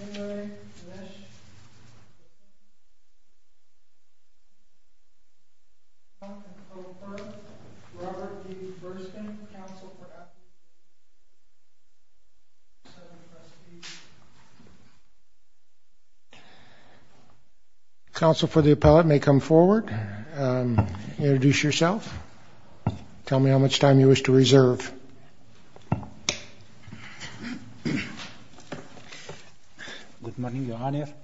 In re, Manesh, Robert D. Burstyn, counsel for the appellate may come forward, introduce yourself, tell me how much time you wish to reserve. Let's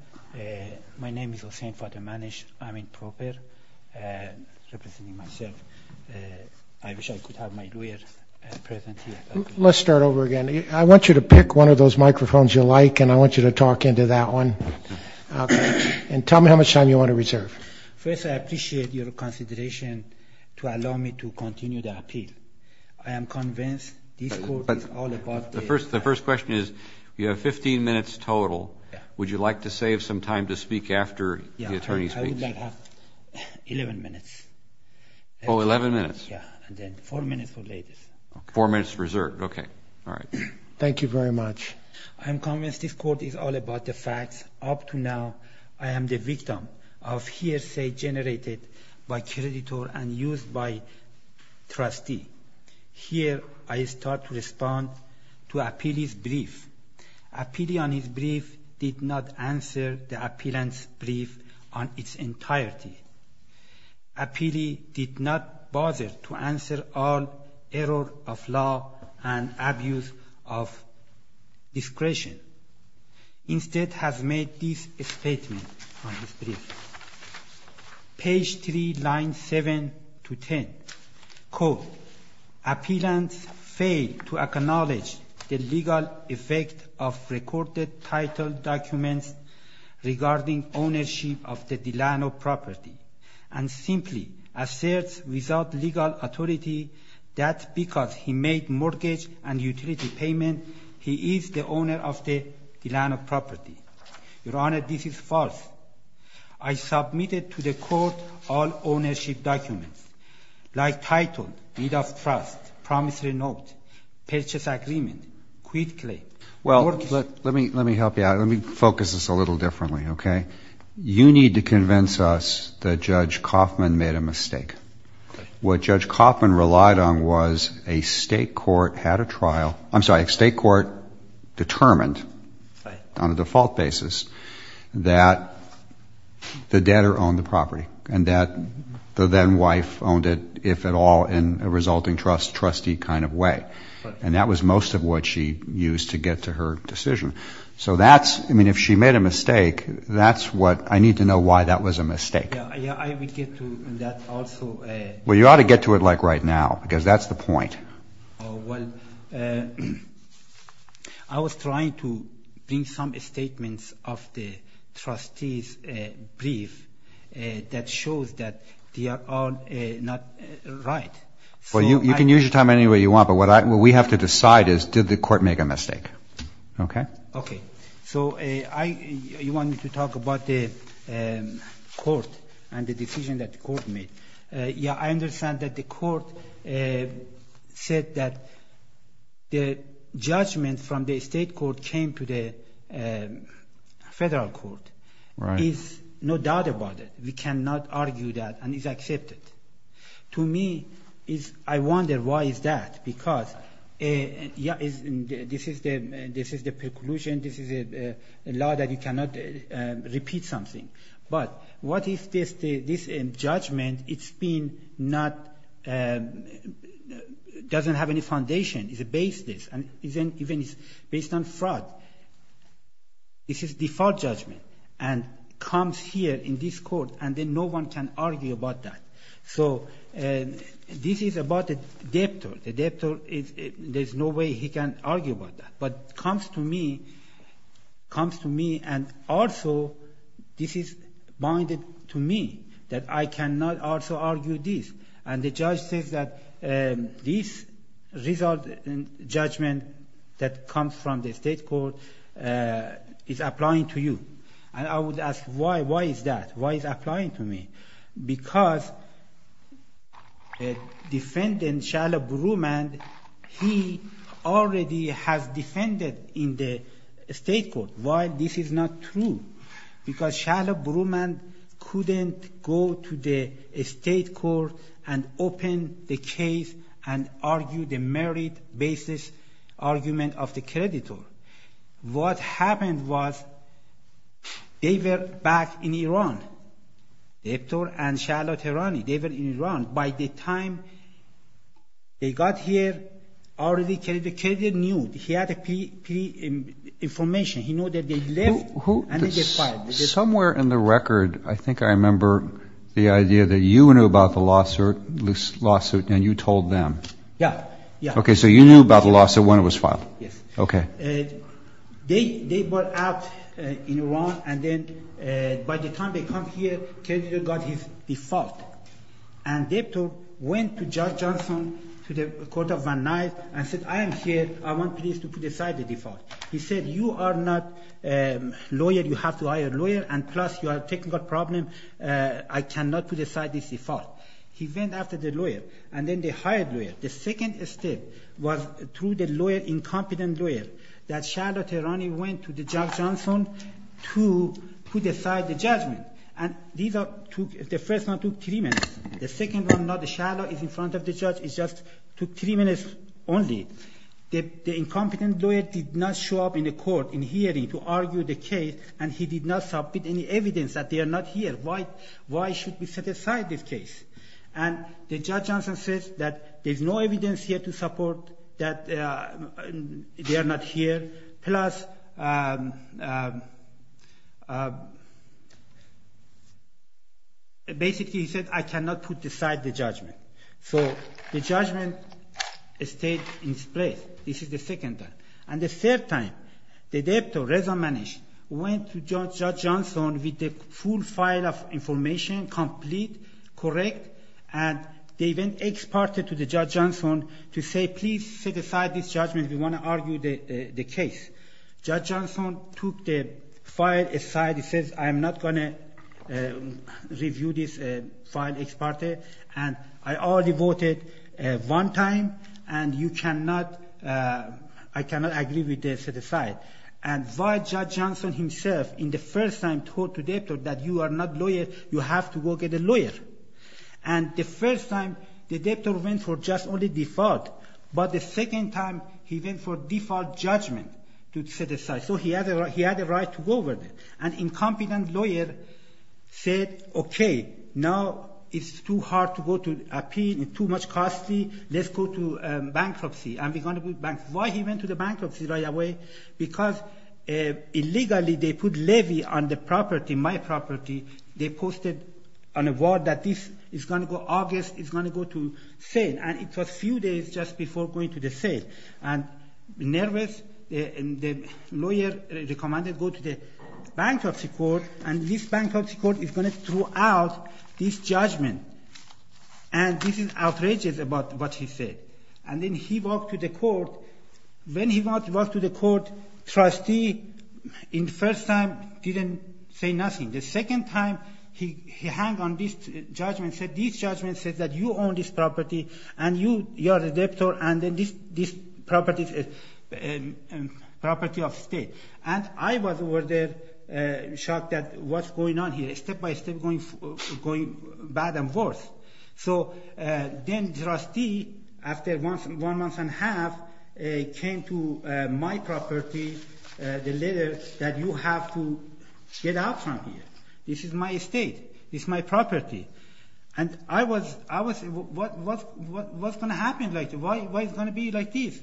start over again. I want you to pick one of those microphones you like and I want you to talk into that one and tell continue the appeal. I am convinced this court is all about the facts. The first question is you have 15 minutes total. Would you like to save some time to speak after the attorney speaks? I would like to have 11 minutes. Oh, 11 minutes. Yeah, and then 4 minutes for later. Four minutes reserved. Okay. All right. Thank you very much. I am convinced this court is all about the facts. Up to now, I am the victim of hearsay generated by creditor and used by trustee. Here, I start to respond to appellee's brief. Appealee on his brief did not answer the appellant's brief on its entirety. Appealee did not bother to answer all error of law and abuse of discretion. Instead, has made this statement on his brief. Page 3, line 7 to 10. Quote, Appellant failed to acknowledge the legal effect of recorded title documents regarding ownership of the Delano property and simply asserts without legal authority that because he made mortgage and utility payment, he is the owner of the Delano property. Your Honor, this is false. I submitted to the court all ownership documents like title, deed of trust, promise renote, purchase agreement, quit claim. Well, let me help you out. Let me focus this a little differently, okay? You need to convince us that Judge Kaufman made a mistake. What Judge Kaufman relied on was a state court had a trial. I'm sorry, a state court determined on a default basis that the debtor owned the property and that the then wife owned it, if at all, in a resulting trustee kind of way. And that was most of what she used to get to her decision. So that's, I mean, if she made a mistake, that's what I need to know why that was a mistake. Well, you ought to get to it like right now because that's the point. Well, I was trying to bring some statements of the trustee's brief that shows that they are all not right. Well, you can use your time anyway you want, but what we have to decide is did the court make a mistake, okay? Okay. So you want me to talk about the court and the said that the judgment from the state court came to the federal court. Right. There's no doubt about it. We cannot argue that and it's accepted. To me, I wonder why is that? Because this is the preclusion. This is a law that you cannot repeat something. But what is this judgment? It's been doesn't have any foundation. It's based on fraud. This is default judgment and comes here in this court and then no one can argue about that. So this is about the debtor. The debtor, there's no way he can argue about that. But comes to me and also this is binded to me that I cannot also argue this. And the judge says that this result in judgment that comes from the state court is applying to you. And I would ask why, why is that? Why is it applying to me? Because the defendant, Shala Brumand, he already has defended in the state court. Why this is not true? Because Shala Brumand couldn't go to the state court and open the case and argue the merit basis argument of the creditor. What happened was they were back in Iran. Debtor and Shala Tehrani, they were in Iran. By the time they got here, already the creditor knew. He had the information. He knew that they were in Iran and by the time they came here, the creditor got his default. And the debtor went to Judge Johnson to the court of Van Nuys and said, I am here. I want to decide the default. He said, you are not a lawyer. You have to hire a lawyer. And plus, you have a technical problem. I cannot put aside this default. He went after the lawyer and then they hired a lawyer. The second step was through the incompetent lawyer that Shala Tehrani went to Judge Johnson to put aside the judgment. And the first one took three minutes. The second one, not Shala, is in front of the judge. It just took three minutes only. The incompetent lawyer did not show up in the court in hearing to argue the case and he did not submit any evidence that they are not here. Why should we set aside this case? And Judge Johnson says that there is no evidence here to support that they are not here. Plus, basically he said, I cannot put aside the judgment. So the judgment stayed in place. This is the second time. And the third time, the debtor, Reza Manish, went to Judge Johnson with the full file of information, complete, correct. And they then exported to Judge Johnson to say, please set aside this judgment. We want to argue the case. Judge Johnson took the file aside. He says, I am not going to review this file, export it. And I already voted one time and you cannot, I cannot agree with this, set aside. And why Judge Johnson himself, in the first time, told the debtor that you are not lawyer, you have to go get a lawyer. And the first time, the debtor went for just only default. But the second time, he went for default judgment to set aside. So he had a right to go with it. An incompetent lawyer said, okay, now it's too hard to go to appeal, it's too much costly, let's go to bankruptcy. And we're going to go to bankruptcy. Why he went to the bankruptcy right away? Because illegally they put levy on the property, my sale. And it was a few days just before going to the sale. And nervous, the lawyer recommended go to the bankruptcy court. And this bankruptcy court is going to throw out this judgment. And this is outrageous about what he said. And then he walked to the court. When he walked to the court, trustee, in first time, didn't say nothing. The second time, he hang on this judgment, said this judgment says that you own this property, and you are a debtor, and this property is a property of state. And I was shocked at what's going on here, step by step going bad and worse. So then trustee, after one month and a half, came to my property, the letter that you have to get out from here. This is my property. And I was, what's going to happen? Why is it going to be like this?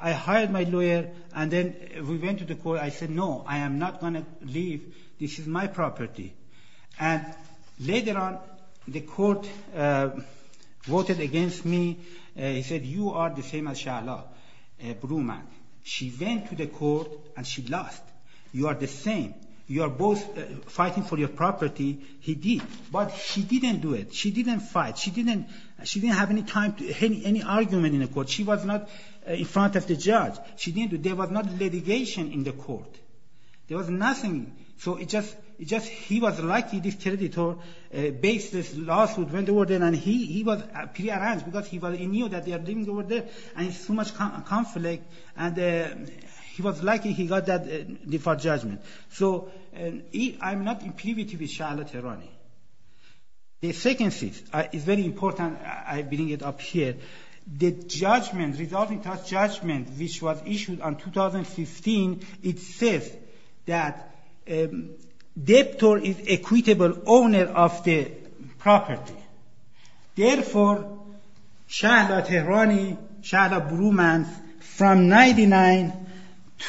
I hired my lawyer, and then we went to the court. I said, no, I am not going to leave. This is my property. And later on, the court voted against me. He said, you are the same as Shahla Brumann. She went to the court, and she lost. You are the same. You are both fighting for your property. He did. But she didn't do it. She didn't fight. She didn't have any time, any argument in the court. She was not in front of the judge. She didn't do it. There was no litigation in the court. There was nothing. So it just, he was lucky this creditor based this lawsuit when they were there. And he was pretty over there. And it's too much conflict. And he was lucky he got that default judgment. So I'm not in privity with Shahla Tehrani. The second thing is very important. I bring it up here. The judgment, resulting judgment, which was issued on 2015, it says that debtor is equitable owner of the property. Therefore, Shahla Tehrani, Shahla Brumann, from 99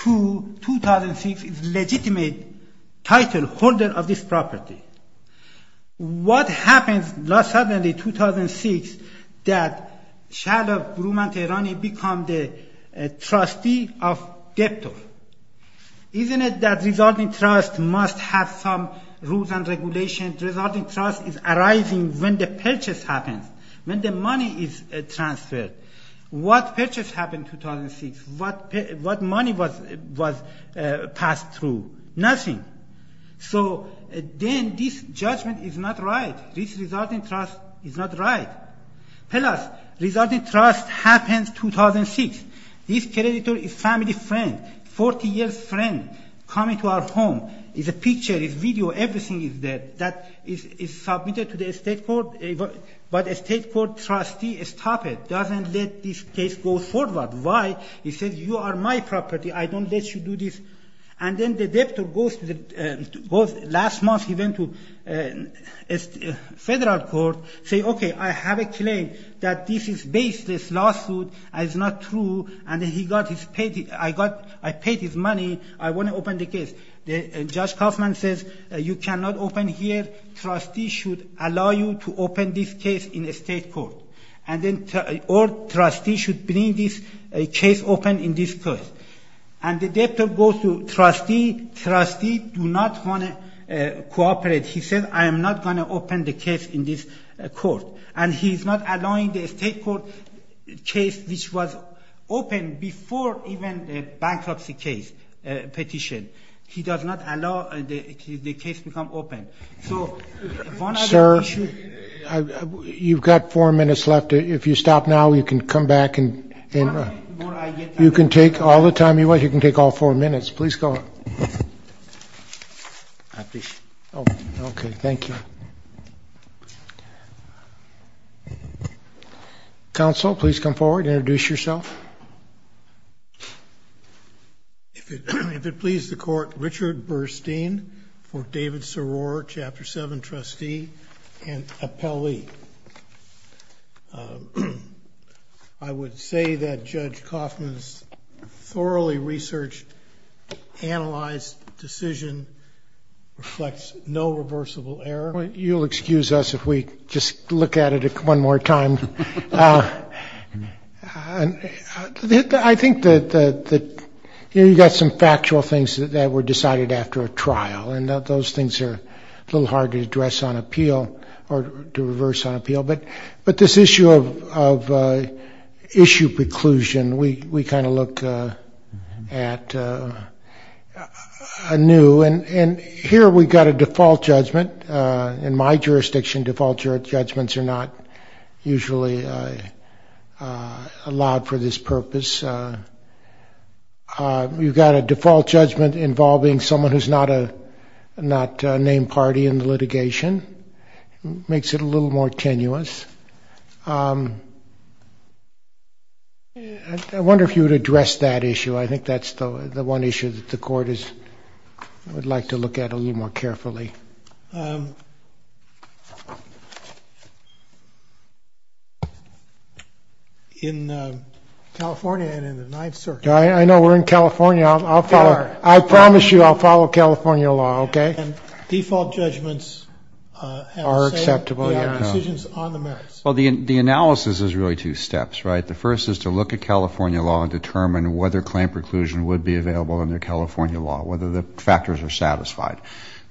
to 2006 is legitimate title holder of this property. What happens suddenly, 2006, that Shahla Brumann Tehrani become the trustee of debtor? Isn't it that resulting trust must have some rules and regulations? Resulting trust is arising when the purchase happens, when the money is transferred. What purchase happened 2006? What money was passed through? Nothing. So then this judgment is not right. This resulting trust is not right. Plus, resulting trust happens 2006. This creditor is family friend, 40 years friend, coming to our home. It's a picture, it's video, everything is there. That is submitted to the state court. But a state court trustee stop it, doesn't let this case go forward. Why? He says, you are my property. I don't let you do this. And then the debtor goes to the, last month he went to federal court, say, okay, I have a claim that this is baseless lawsuit and it's not true. And I paid his money, I want to open the case. Judge Kaufman says, you cannot open here, trustee should allow you to open this case in a state court. Or trustee should bring this case open in this court. And the debtor goes to trustee, trustee do not want to cooperate. He says, I am not going to open the case in this court. And he's not allowing the state court case which was open before even the bankruptcy case petition. He does not allow the case become open. Sir, you've got four minutes left. If you stop now, you can come back and you can take all the time you want. You can take all four minutes. Please go. Okay, thank you. Counsel, please come forward, introduce yourself. If it please the court, Richard Burstein for David Soror, Chapter 7 trustee and appellee. I would say that Judge Kaufman's thoroughly researched, analyzed decision reflects no reversible error. You'll excuse us if we just look at it one more time. I think that you got some factual things that were decided after a trial and those things are a little hard to address on appeal or to reverse on appeal. But this issue of issue preclusion, we kind of look at a new and here we've got a default judgment. In my jurisdiction, default judgments are not usually allowed for this purpose. You've got a default judgment involving someone who's not a not named party in the litigation, makes it a little more tenuous. I wonder if you would address that issue. I think that's the one issue that the court is would like to look at a little more carefully. In California and in the Ninth Circuit. I know we're in California. I'll follow. I promise you I'll follow California law. Okay. Default judgments are acceptable. Well, the analysis is really two steps, right? The first is to look at California law and determine whether claim preclusion would be available under California law, whether the factors are satisfied.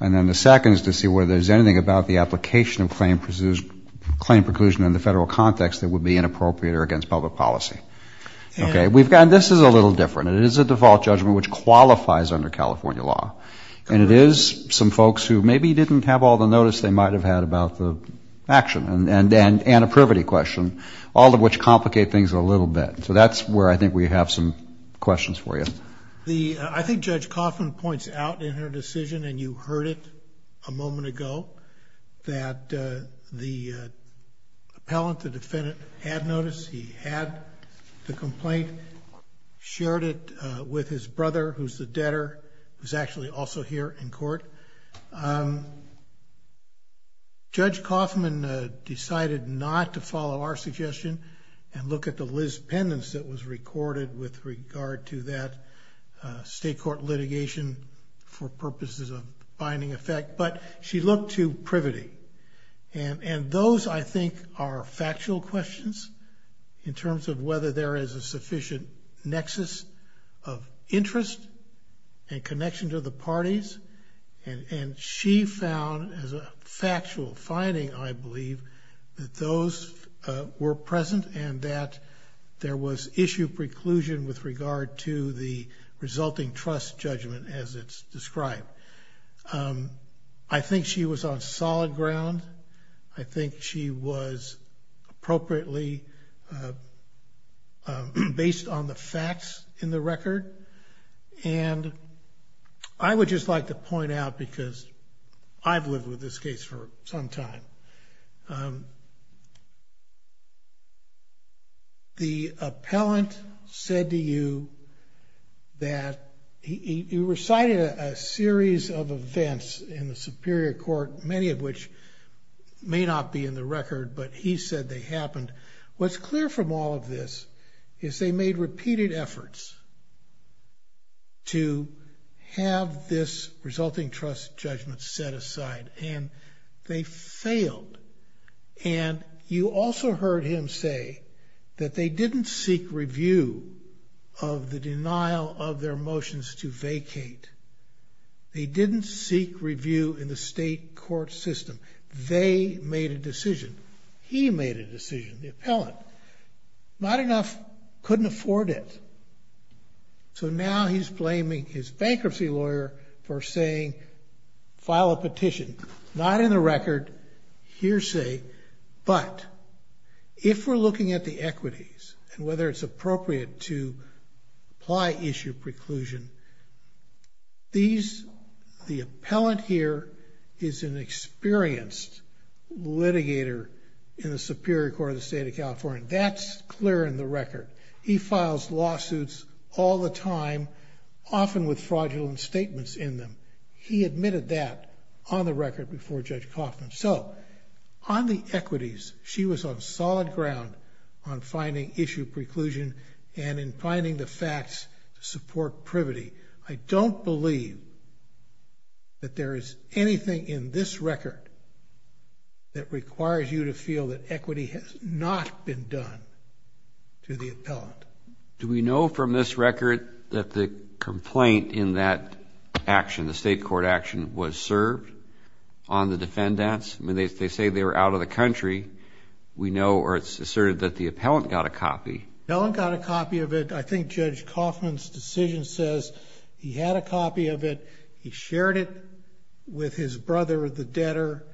And then the second is to see whether there's anything about the application of claim preclusion in the federal context that would be inappropriate or against public policy. Okay. We've got, this is a little different. It is a default judgment which qualifies under about the action and a privity question, all of which complicate things a little bit. So that's where I think we have some questions for you. I think Judge Coffman points out in her decision, and you heard it a moment ago, that the appellant, the defendant, had notice. He had the complaint, shared it with his brother, who's the debtor, who's actually also here in court. Judge Coffman decided not to follow our suggestion and look at the Liz pendants that was recorded with regard to that state court litigation for purposes of binding effect, but she looked to privity. And those, I think, are factual questions in terms of whether there is a sufficient nexus of interest and connection to the parties. And she found as a factual finding, I believe, that those were present and that there was issue preclusion with regard to the resulting trust judgment as it's was appropriately based on the facts in the record. And I would just like to point out, because I've lived with this case for some time, the appellant said to you that he recited a series of events in the Superior Court, many of which may not be in the record, but he said they happened. What's clear from all of this is they made repeated efforts to have this resulting trust judgment set aside, and they failed. And you also heard him say that they didn't seek review of the in the state court system. They made a decision. He made a decision, the appellant. Not enough couldn't afford it. So now he's blaming his bankruptcy lawyer for saying file a petition, not in the record, hearsay, but if we're looking at the equities and whether it's appropriate to apply issue preclusion. These, the appellant here is an experienced litigator in the Superior Court of the state of California. That's clear in the record. He files lawsuits all the time, often with fraudulent statements in them. He admitted that on the record before Judge Kaufman. So on the equities, she was on solid ground on finding issue preclusion and in finding the facts to support privity. I don't believe that there is anything in this record that requires you to feel that equity has not been done to the appellant. Do we know from this record that the complaint in that action, the state court action, was served on the defendants? I mean, they say they were out of the country. We know or it's asserted that the appellant got a copy. The appellant got a copy of it. I think Judge Kaufman's decision says he had a copy of it. He shared it with his brother, the debtor.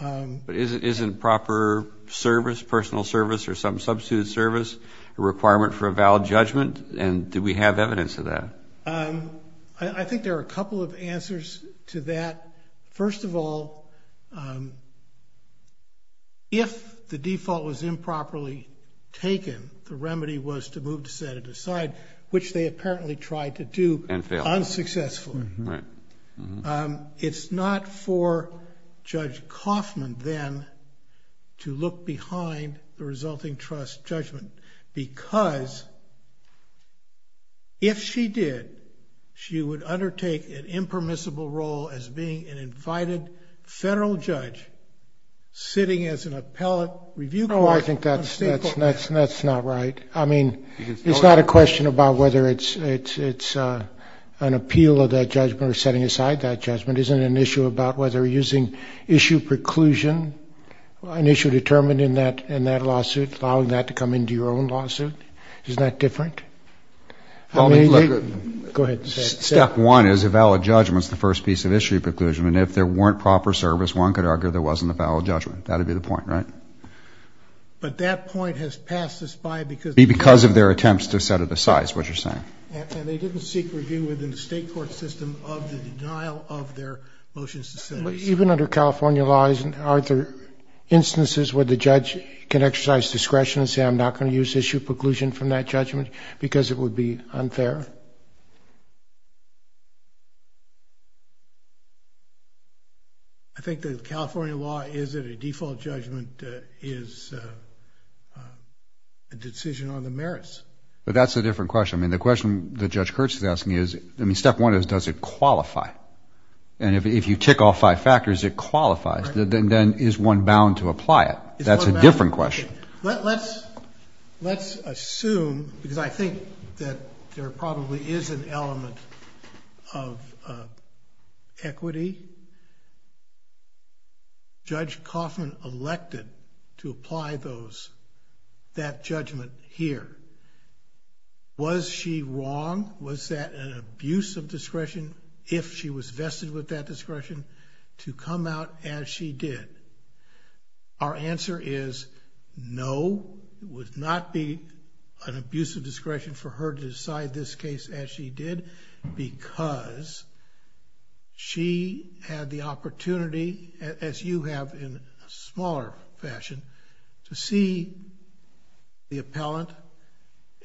But isn't proper service, personal service, or some substitute service a requirement for a valid judgment? And do we have evidence of that? I think there are a couple of answers to that. First of all, if the default was improperly taken, the remedy was to move to set it aside, which they apparently tried to do unsuccessfully. It's not for Judge Kaufman then to look behind the resulting trust judgment because if she did, she would undertake an impermissible role as being an invited federal judge sitting as an appellate review court. I think that's not right. I mean, it's not a question about whether it's an appeal of that judgment or setting aside that judgment. Isn't an issue about whether using issue preclusion, an issue determined in that lawsuit, allowing that to come into your own lawsuit? Isn't that different? Go ahead. Step one is a valid judgment is the first piece of issue preclusion. And if there weren't proper service, one could argue there wasn't a valid judgment. That would be the point, right? But that point has passed this by because of their attempts to set it aside, is what you're saying. And they didn't seek review within the state court system of the denial of their motion. Even under California laws, are there instances where the judge can exercise discretion and say, I'm not going to use issue preclusion from that judgment because it would be unfair? I think the California law is that a default judgment is a decision on the merits. But that's a different question. I mean, the question that Judge Kurtz is asking is, I mean, step one is, does it qualify? And if you tick all five factors, it qualifies. Then is one bound to apply it? That's a different question. Let's assume, because I think that there probably is an element of equity. Judge Kaufman elected to apply that judgment here. Was she wrong? Was that an abuse of discretion if she was vested with that discretion to come out as she did? Our answer is no. It would not be an abuse of discretion for her to decide this case as she did because she had the opportunity, as you have in a smaller fashion, to see the appellant.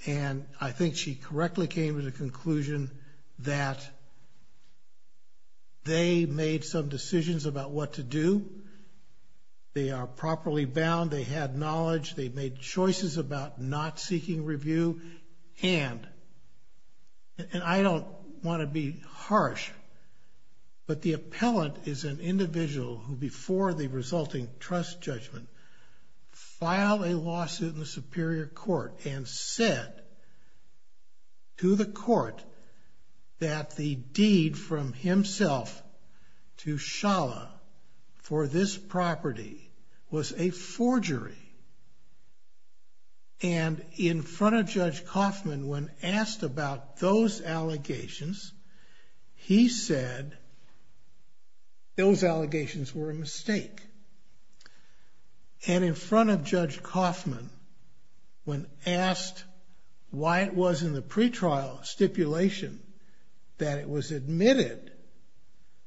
And I think she correctly came to the conclusion that they made some decisions about what to do. They are properly bound. They had knowledge. They made choices about not seeking review. And I don't want to be harsh, but the appellant is an individual who before the resulting trust judgment filed a lawsuit in the Superior Court and said to the court that the deed from himself to Schala for this property was a forgery. And in front of Judge Kaufman, when asked about those allegations, he said those allegations were a mistake. And in front of Judge Kaufman, when asked why it was in the pretrial stipulation that it was admitted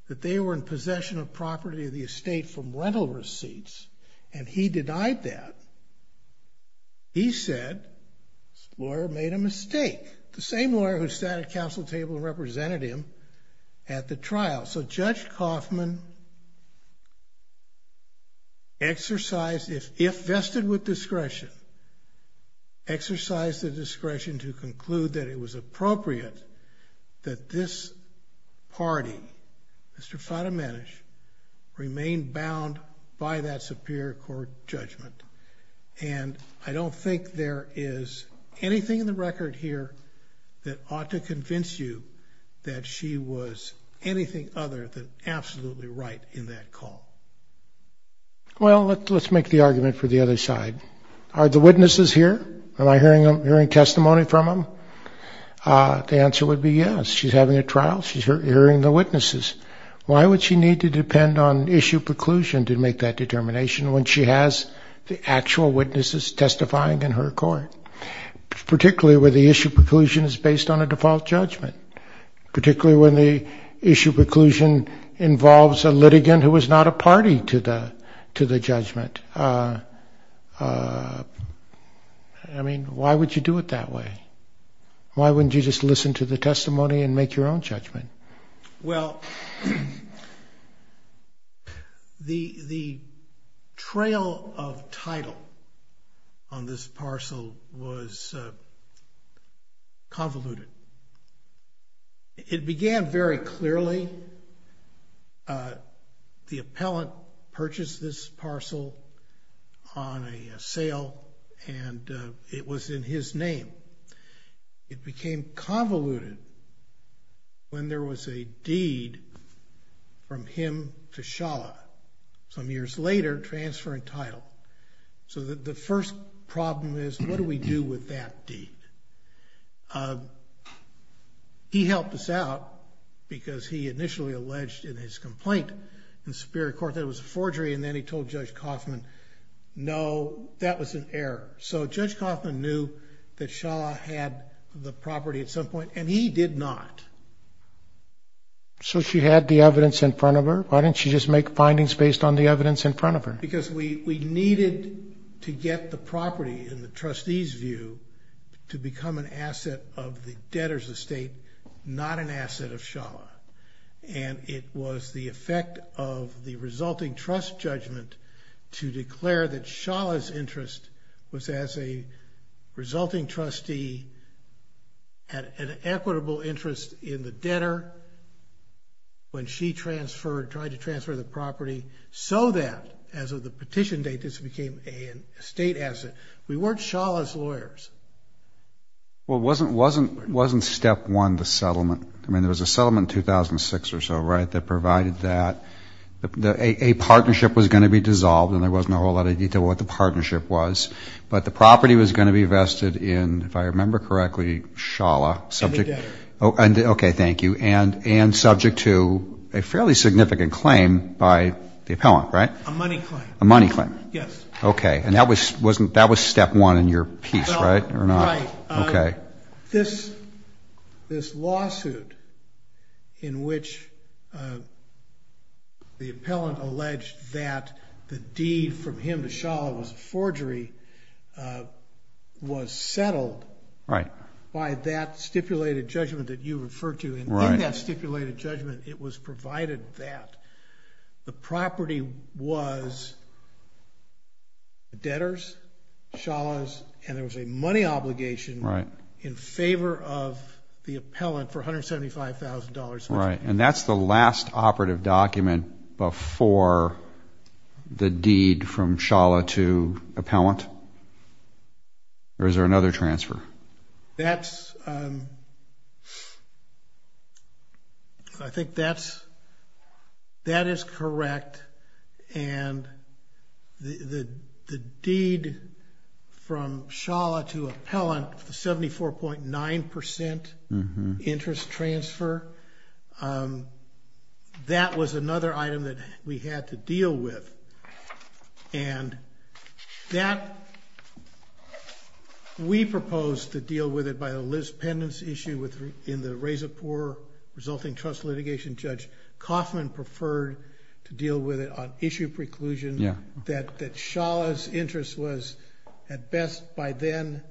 that they were in possession of property of the estate from rental receipts, and he denied that, he said this lawyer made a mistake. The same lawyer who sat at counsel table and represented him at the trial. So Judge Kaufman exercised, if vested with discretion, exercised the discretion to conclude that it was appropriate that this party, Mr. Fadimanisch, remain bound by that Superior Court judgment. And I don't think there is anything in the record here that ought to convince you that she was anything other than absolutely right in that call. Well, let's make the argument for the other side. Are the witnesses here? Am I hearing testimony from them? The answer would be yes. She's having a trial. She's hearing the witnesses. Why would she need to depend on issue preclusion to make that determination when she has the actual witnesses testifying in her court? Particularly when the issue preclusion is based on a default judgment. Particularly when the issue preclusion involves a litigant who is not a party to the judgment. I mean, why would you do it that way? Why wouldn't you just listen to the testimony and make your own judgment? Well, the trail of title on this parcel was convoluted. It began very clearly. The appellant purchased this parcel on a sale and it was in his name. It became convoluted when there was a deed from him to Schala, some years later, transferring title. So the first problem is, what do we do with that deed? He helped us out because he initially alleged in his complaint in the Superior Court that it was a forgery and then he told Judge Kaufman, no, that was an error. So Judge Kaufman knew that Schala had the property at some point and he did not. So she had the evidence in front of her? Why didn't she just make findings based on the evidence in front of her? Because we needed to get the property in the trustee's view to become an asset of the debtor's estate, not an asset of Schala. And it was the effect of the resulting trust judgment to declare that Schala's interest was as a resulting trustee an equitable interest in the debtor when she transferred, tried to transfer the property, so that as of the petition date this became an estate asset. We weren't Schala's lawyers. Well, wasn't step one the settlement? I mean, there was a settlement in 2006 or so, right, that provided that a partnership was going to be dissolved and there wasn't a whole lot of detail what the partnership was, but the property was going to be vested in, if I remember correctly, Schala. And the debtor. Okay, thank you. And subject to a fairly significant claim by the appellant, right? A money claim. A money claim. Yes. Okay. And that was step one in your piece, right? Right. Okay. This lawsuit in which the appellant alleged that the deed from him to Schala was a forgery was settled by that stipulated judgment that you referred to, and in that stipulated judgment it was provided that the property was the debtor's, Schala's, and there was a money obligation in favor of the appellant for $175,000. Right. And that's the last operative document before the deed from Schala to appellant? Or is there another transfer? That's, I think that's, that is correct. And the deed from Schala to appellant, the 74.9% interest transfer, that was another item that we had to deal with. And that, we proposed to deal with it by a Liz Pendence issue in the Razorpore resulting trust litigation. Judge Kaufman preferred to deal with it on issue preclusion. Yeah. That Schala's interest was at best by then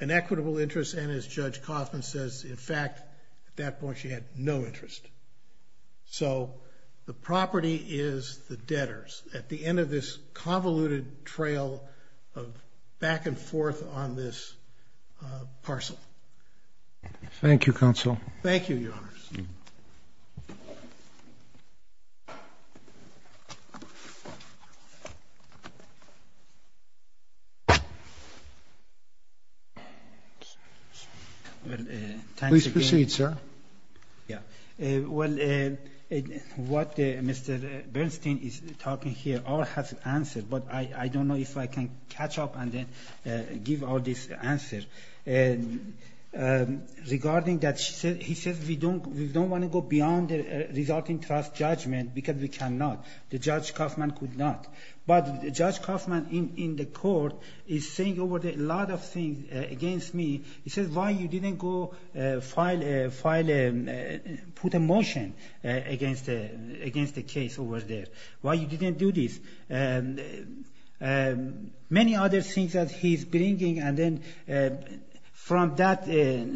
an equitable interest, and as Judge Kaufman says, in fact, at that point she had no interest. So the property is the debtor's at the end of this convoluted trail of back and forth on this parcel. Thank you, counsel. Thank you, Your Honors. Please proceed, sir. Yeah. Well, what Mr. Bernstein is talking here all has an answer, but I don't know if I can catch up and then give all this answer. Regarding that, he says we don't want to go beyond the resulting trust judgment because we cannot. The Judge Kaufman could not. But Judge Kaufman in the court is saying a lot of things against me. He says, why you didn't go put a motion against the case over there? Why you didn't do this? Many other things that he's bringing, and then from that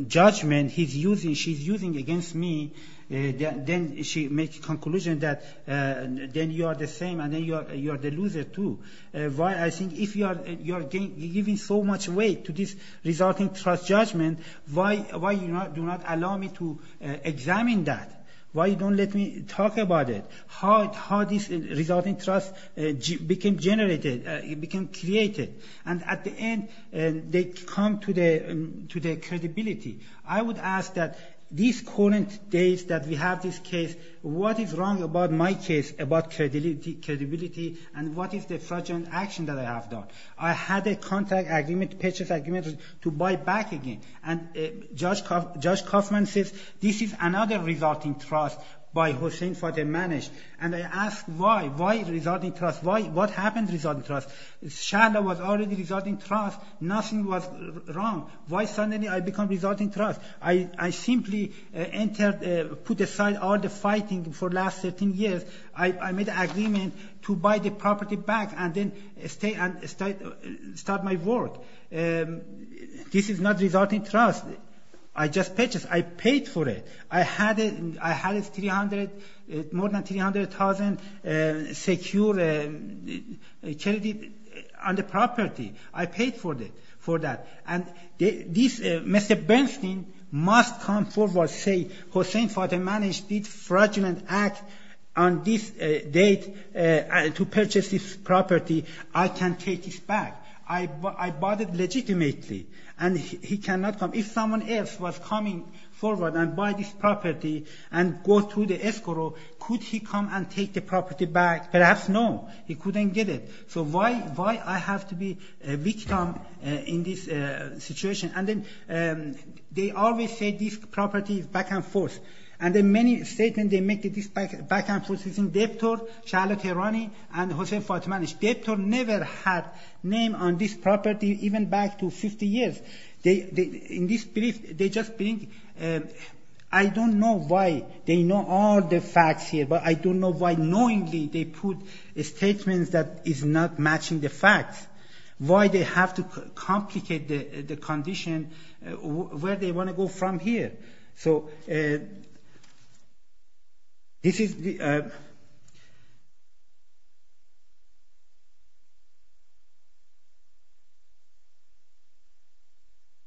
judgment he's using, she's using against me, then she makes conclusion that then you are the same and then you are the loser too. Why I think if you are giving so much weight to this resulting trust judgment, why you do not allow me to examine that? Why you don't let me talk about it? How this resulting trust became generated, became created? And at the end, they come to the credibility. I would ask that these current days that we have this case, what is wrong about my case about credibility and what is the fraudulent action that I have done? I had a contract agreement, a purchase agreement to buy back again. And Judge Kaufman says this is another resulting trust by Hossein Fateh Manesh. And I ask why, why resulting trust? What happened to resulting trust? Sharla was already resulting trust. Nothing was wrong. Why suddenly I become resulting trust? I simply entered, put aside all the fighting for last 13 years. I made agreement to buy the property back and then stay and start my work. This is not resulting trust. I just purchased. I paid for it. I had 300, more than 300,000 secure charity on the property. I paid for that. And this Mr. Bernstein must come forward, say Hossein Fateh Manesh did fraudulent act on this date to purchase this property. I can take this back. I bought it legitimately. And he cannot come. If someone else was coming forward and buy this property and go to the escrow, could he come and take the property back? Perhaps no. He couldn't get it. So why I have to be a victim in this situation? And then they always say this property is back and forth. And there are many statements they make that this is back and forth between Deptor, Sharla Tehrani, and Hossein Fateh Manesh. Deptor never had name on this property even back to 50 years. In this brief, they just bring – I don't know why they know all the facts here, but I don't know why knowingly they put statements that is not matching the facts. Why they have to complicate the condition? Where they want to go from here? So this is the –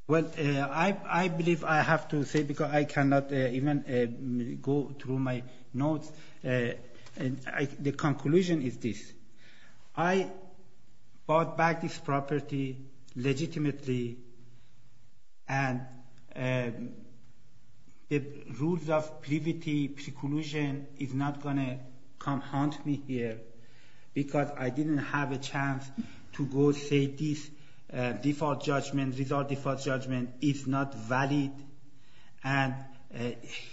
well, I believe I have to say because I cannot even go through my notes. The conclusion is this. I bought back this property legitimately, and the rules of privity, preclusion is not going to come haunt me here because I didn't have a chance to go say this default judgment, result default judgment is not valid. And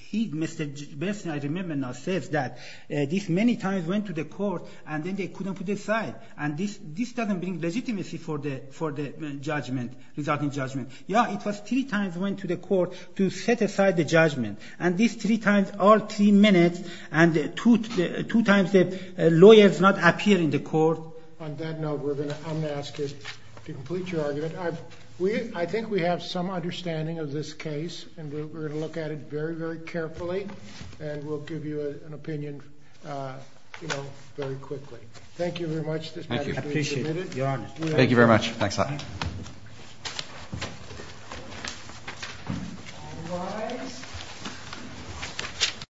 he, Mr. Berson, I remember now, says that this many times went to the court, and then they couldn't put aside. And this doesn't bring legitimacy for the judgment, resulting judgment. Yeah, it was three times went to the court to set aside the judgment, and these three times are three minutes, and two times lawyers not appear in the court. On that note, I'm going to ask you to complete your argument. I think we have some understanding of this case, and we're going to look at it very, very carefully, and we'll give you an opinion, you know, very quickly. Thank you very much. Thank you. I appreciate it. Your Honor. Thank you very much. Thanks a lot.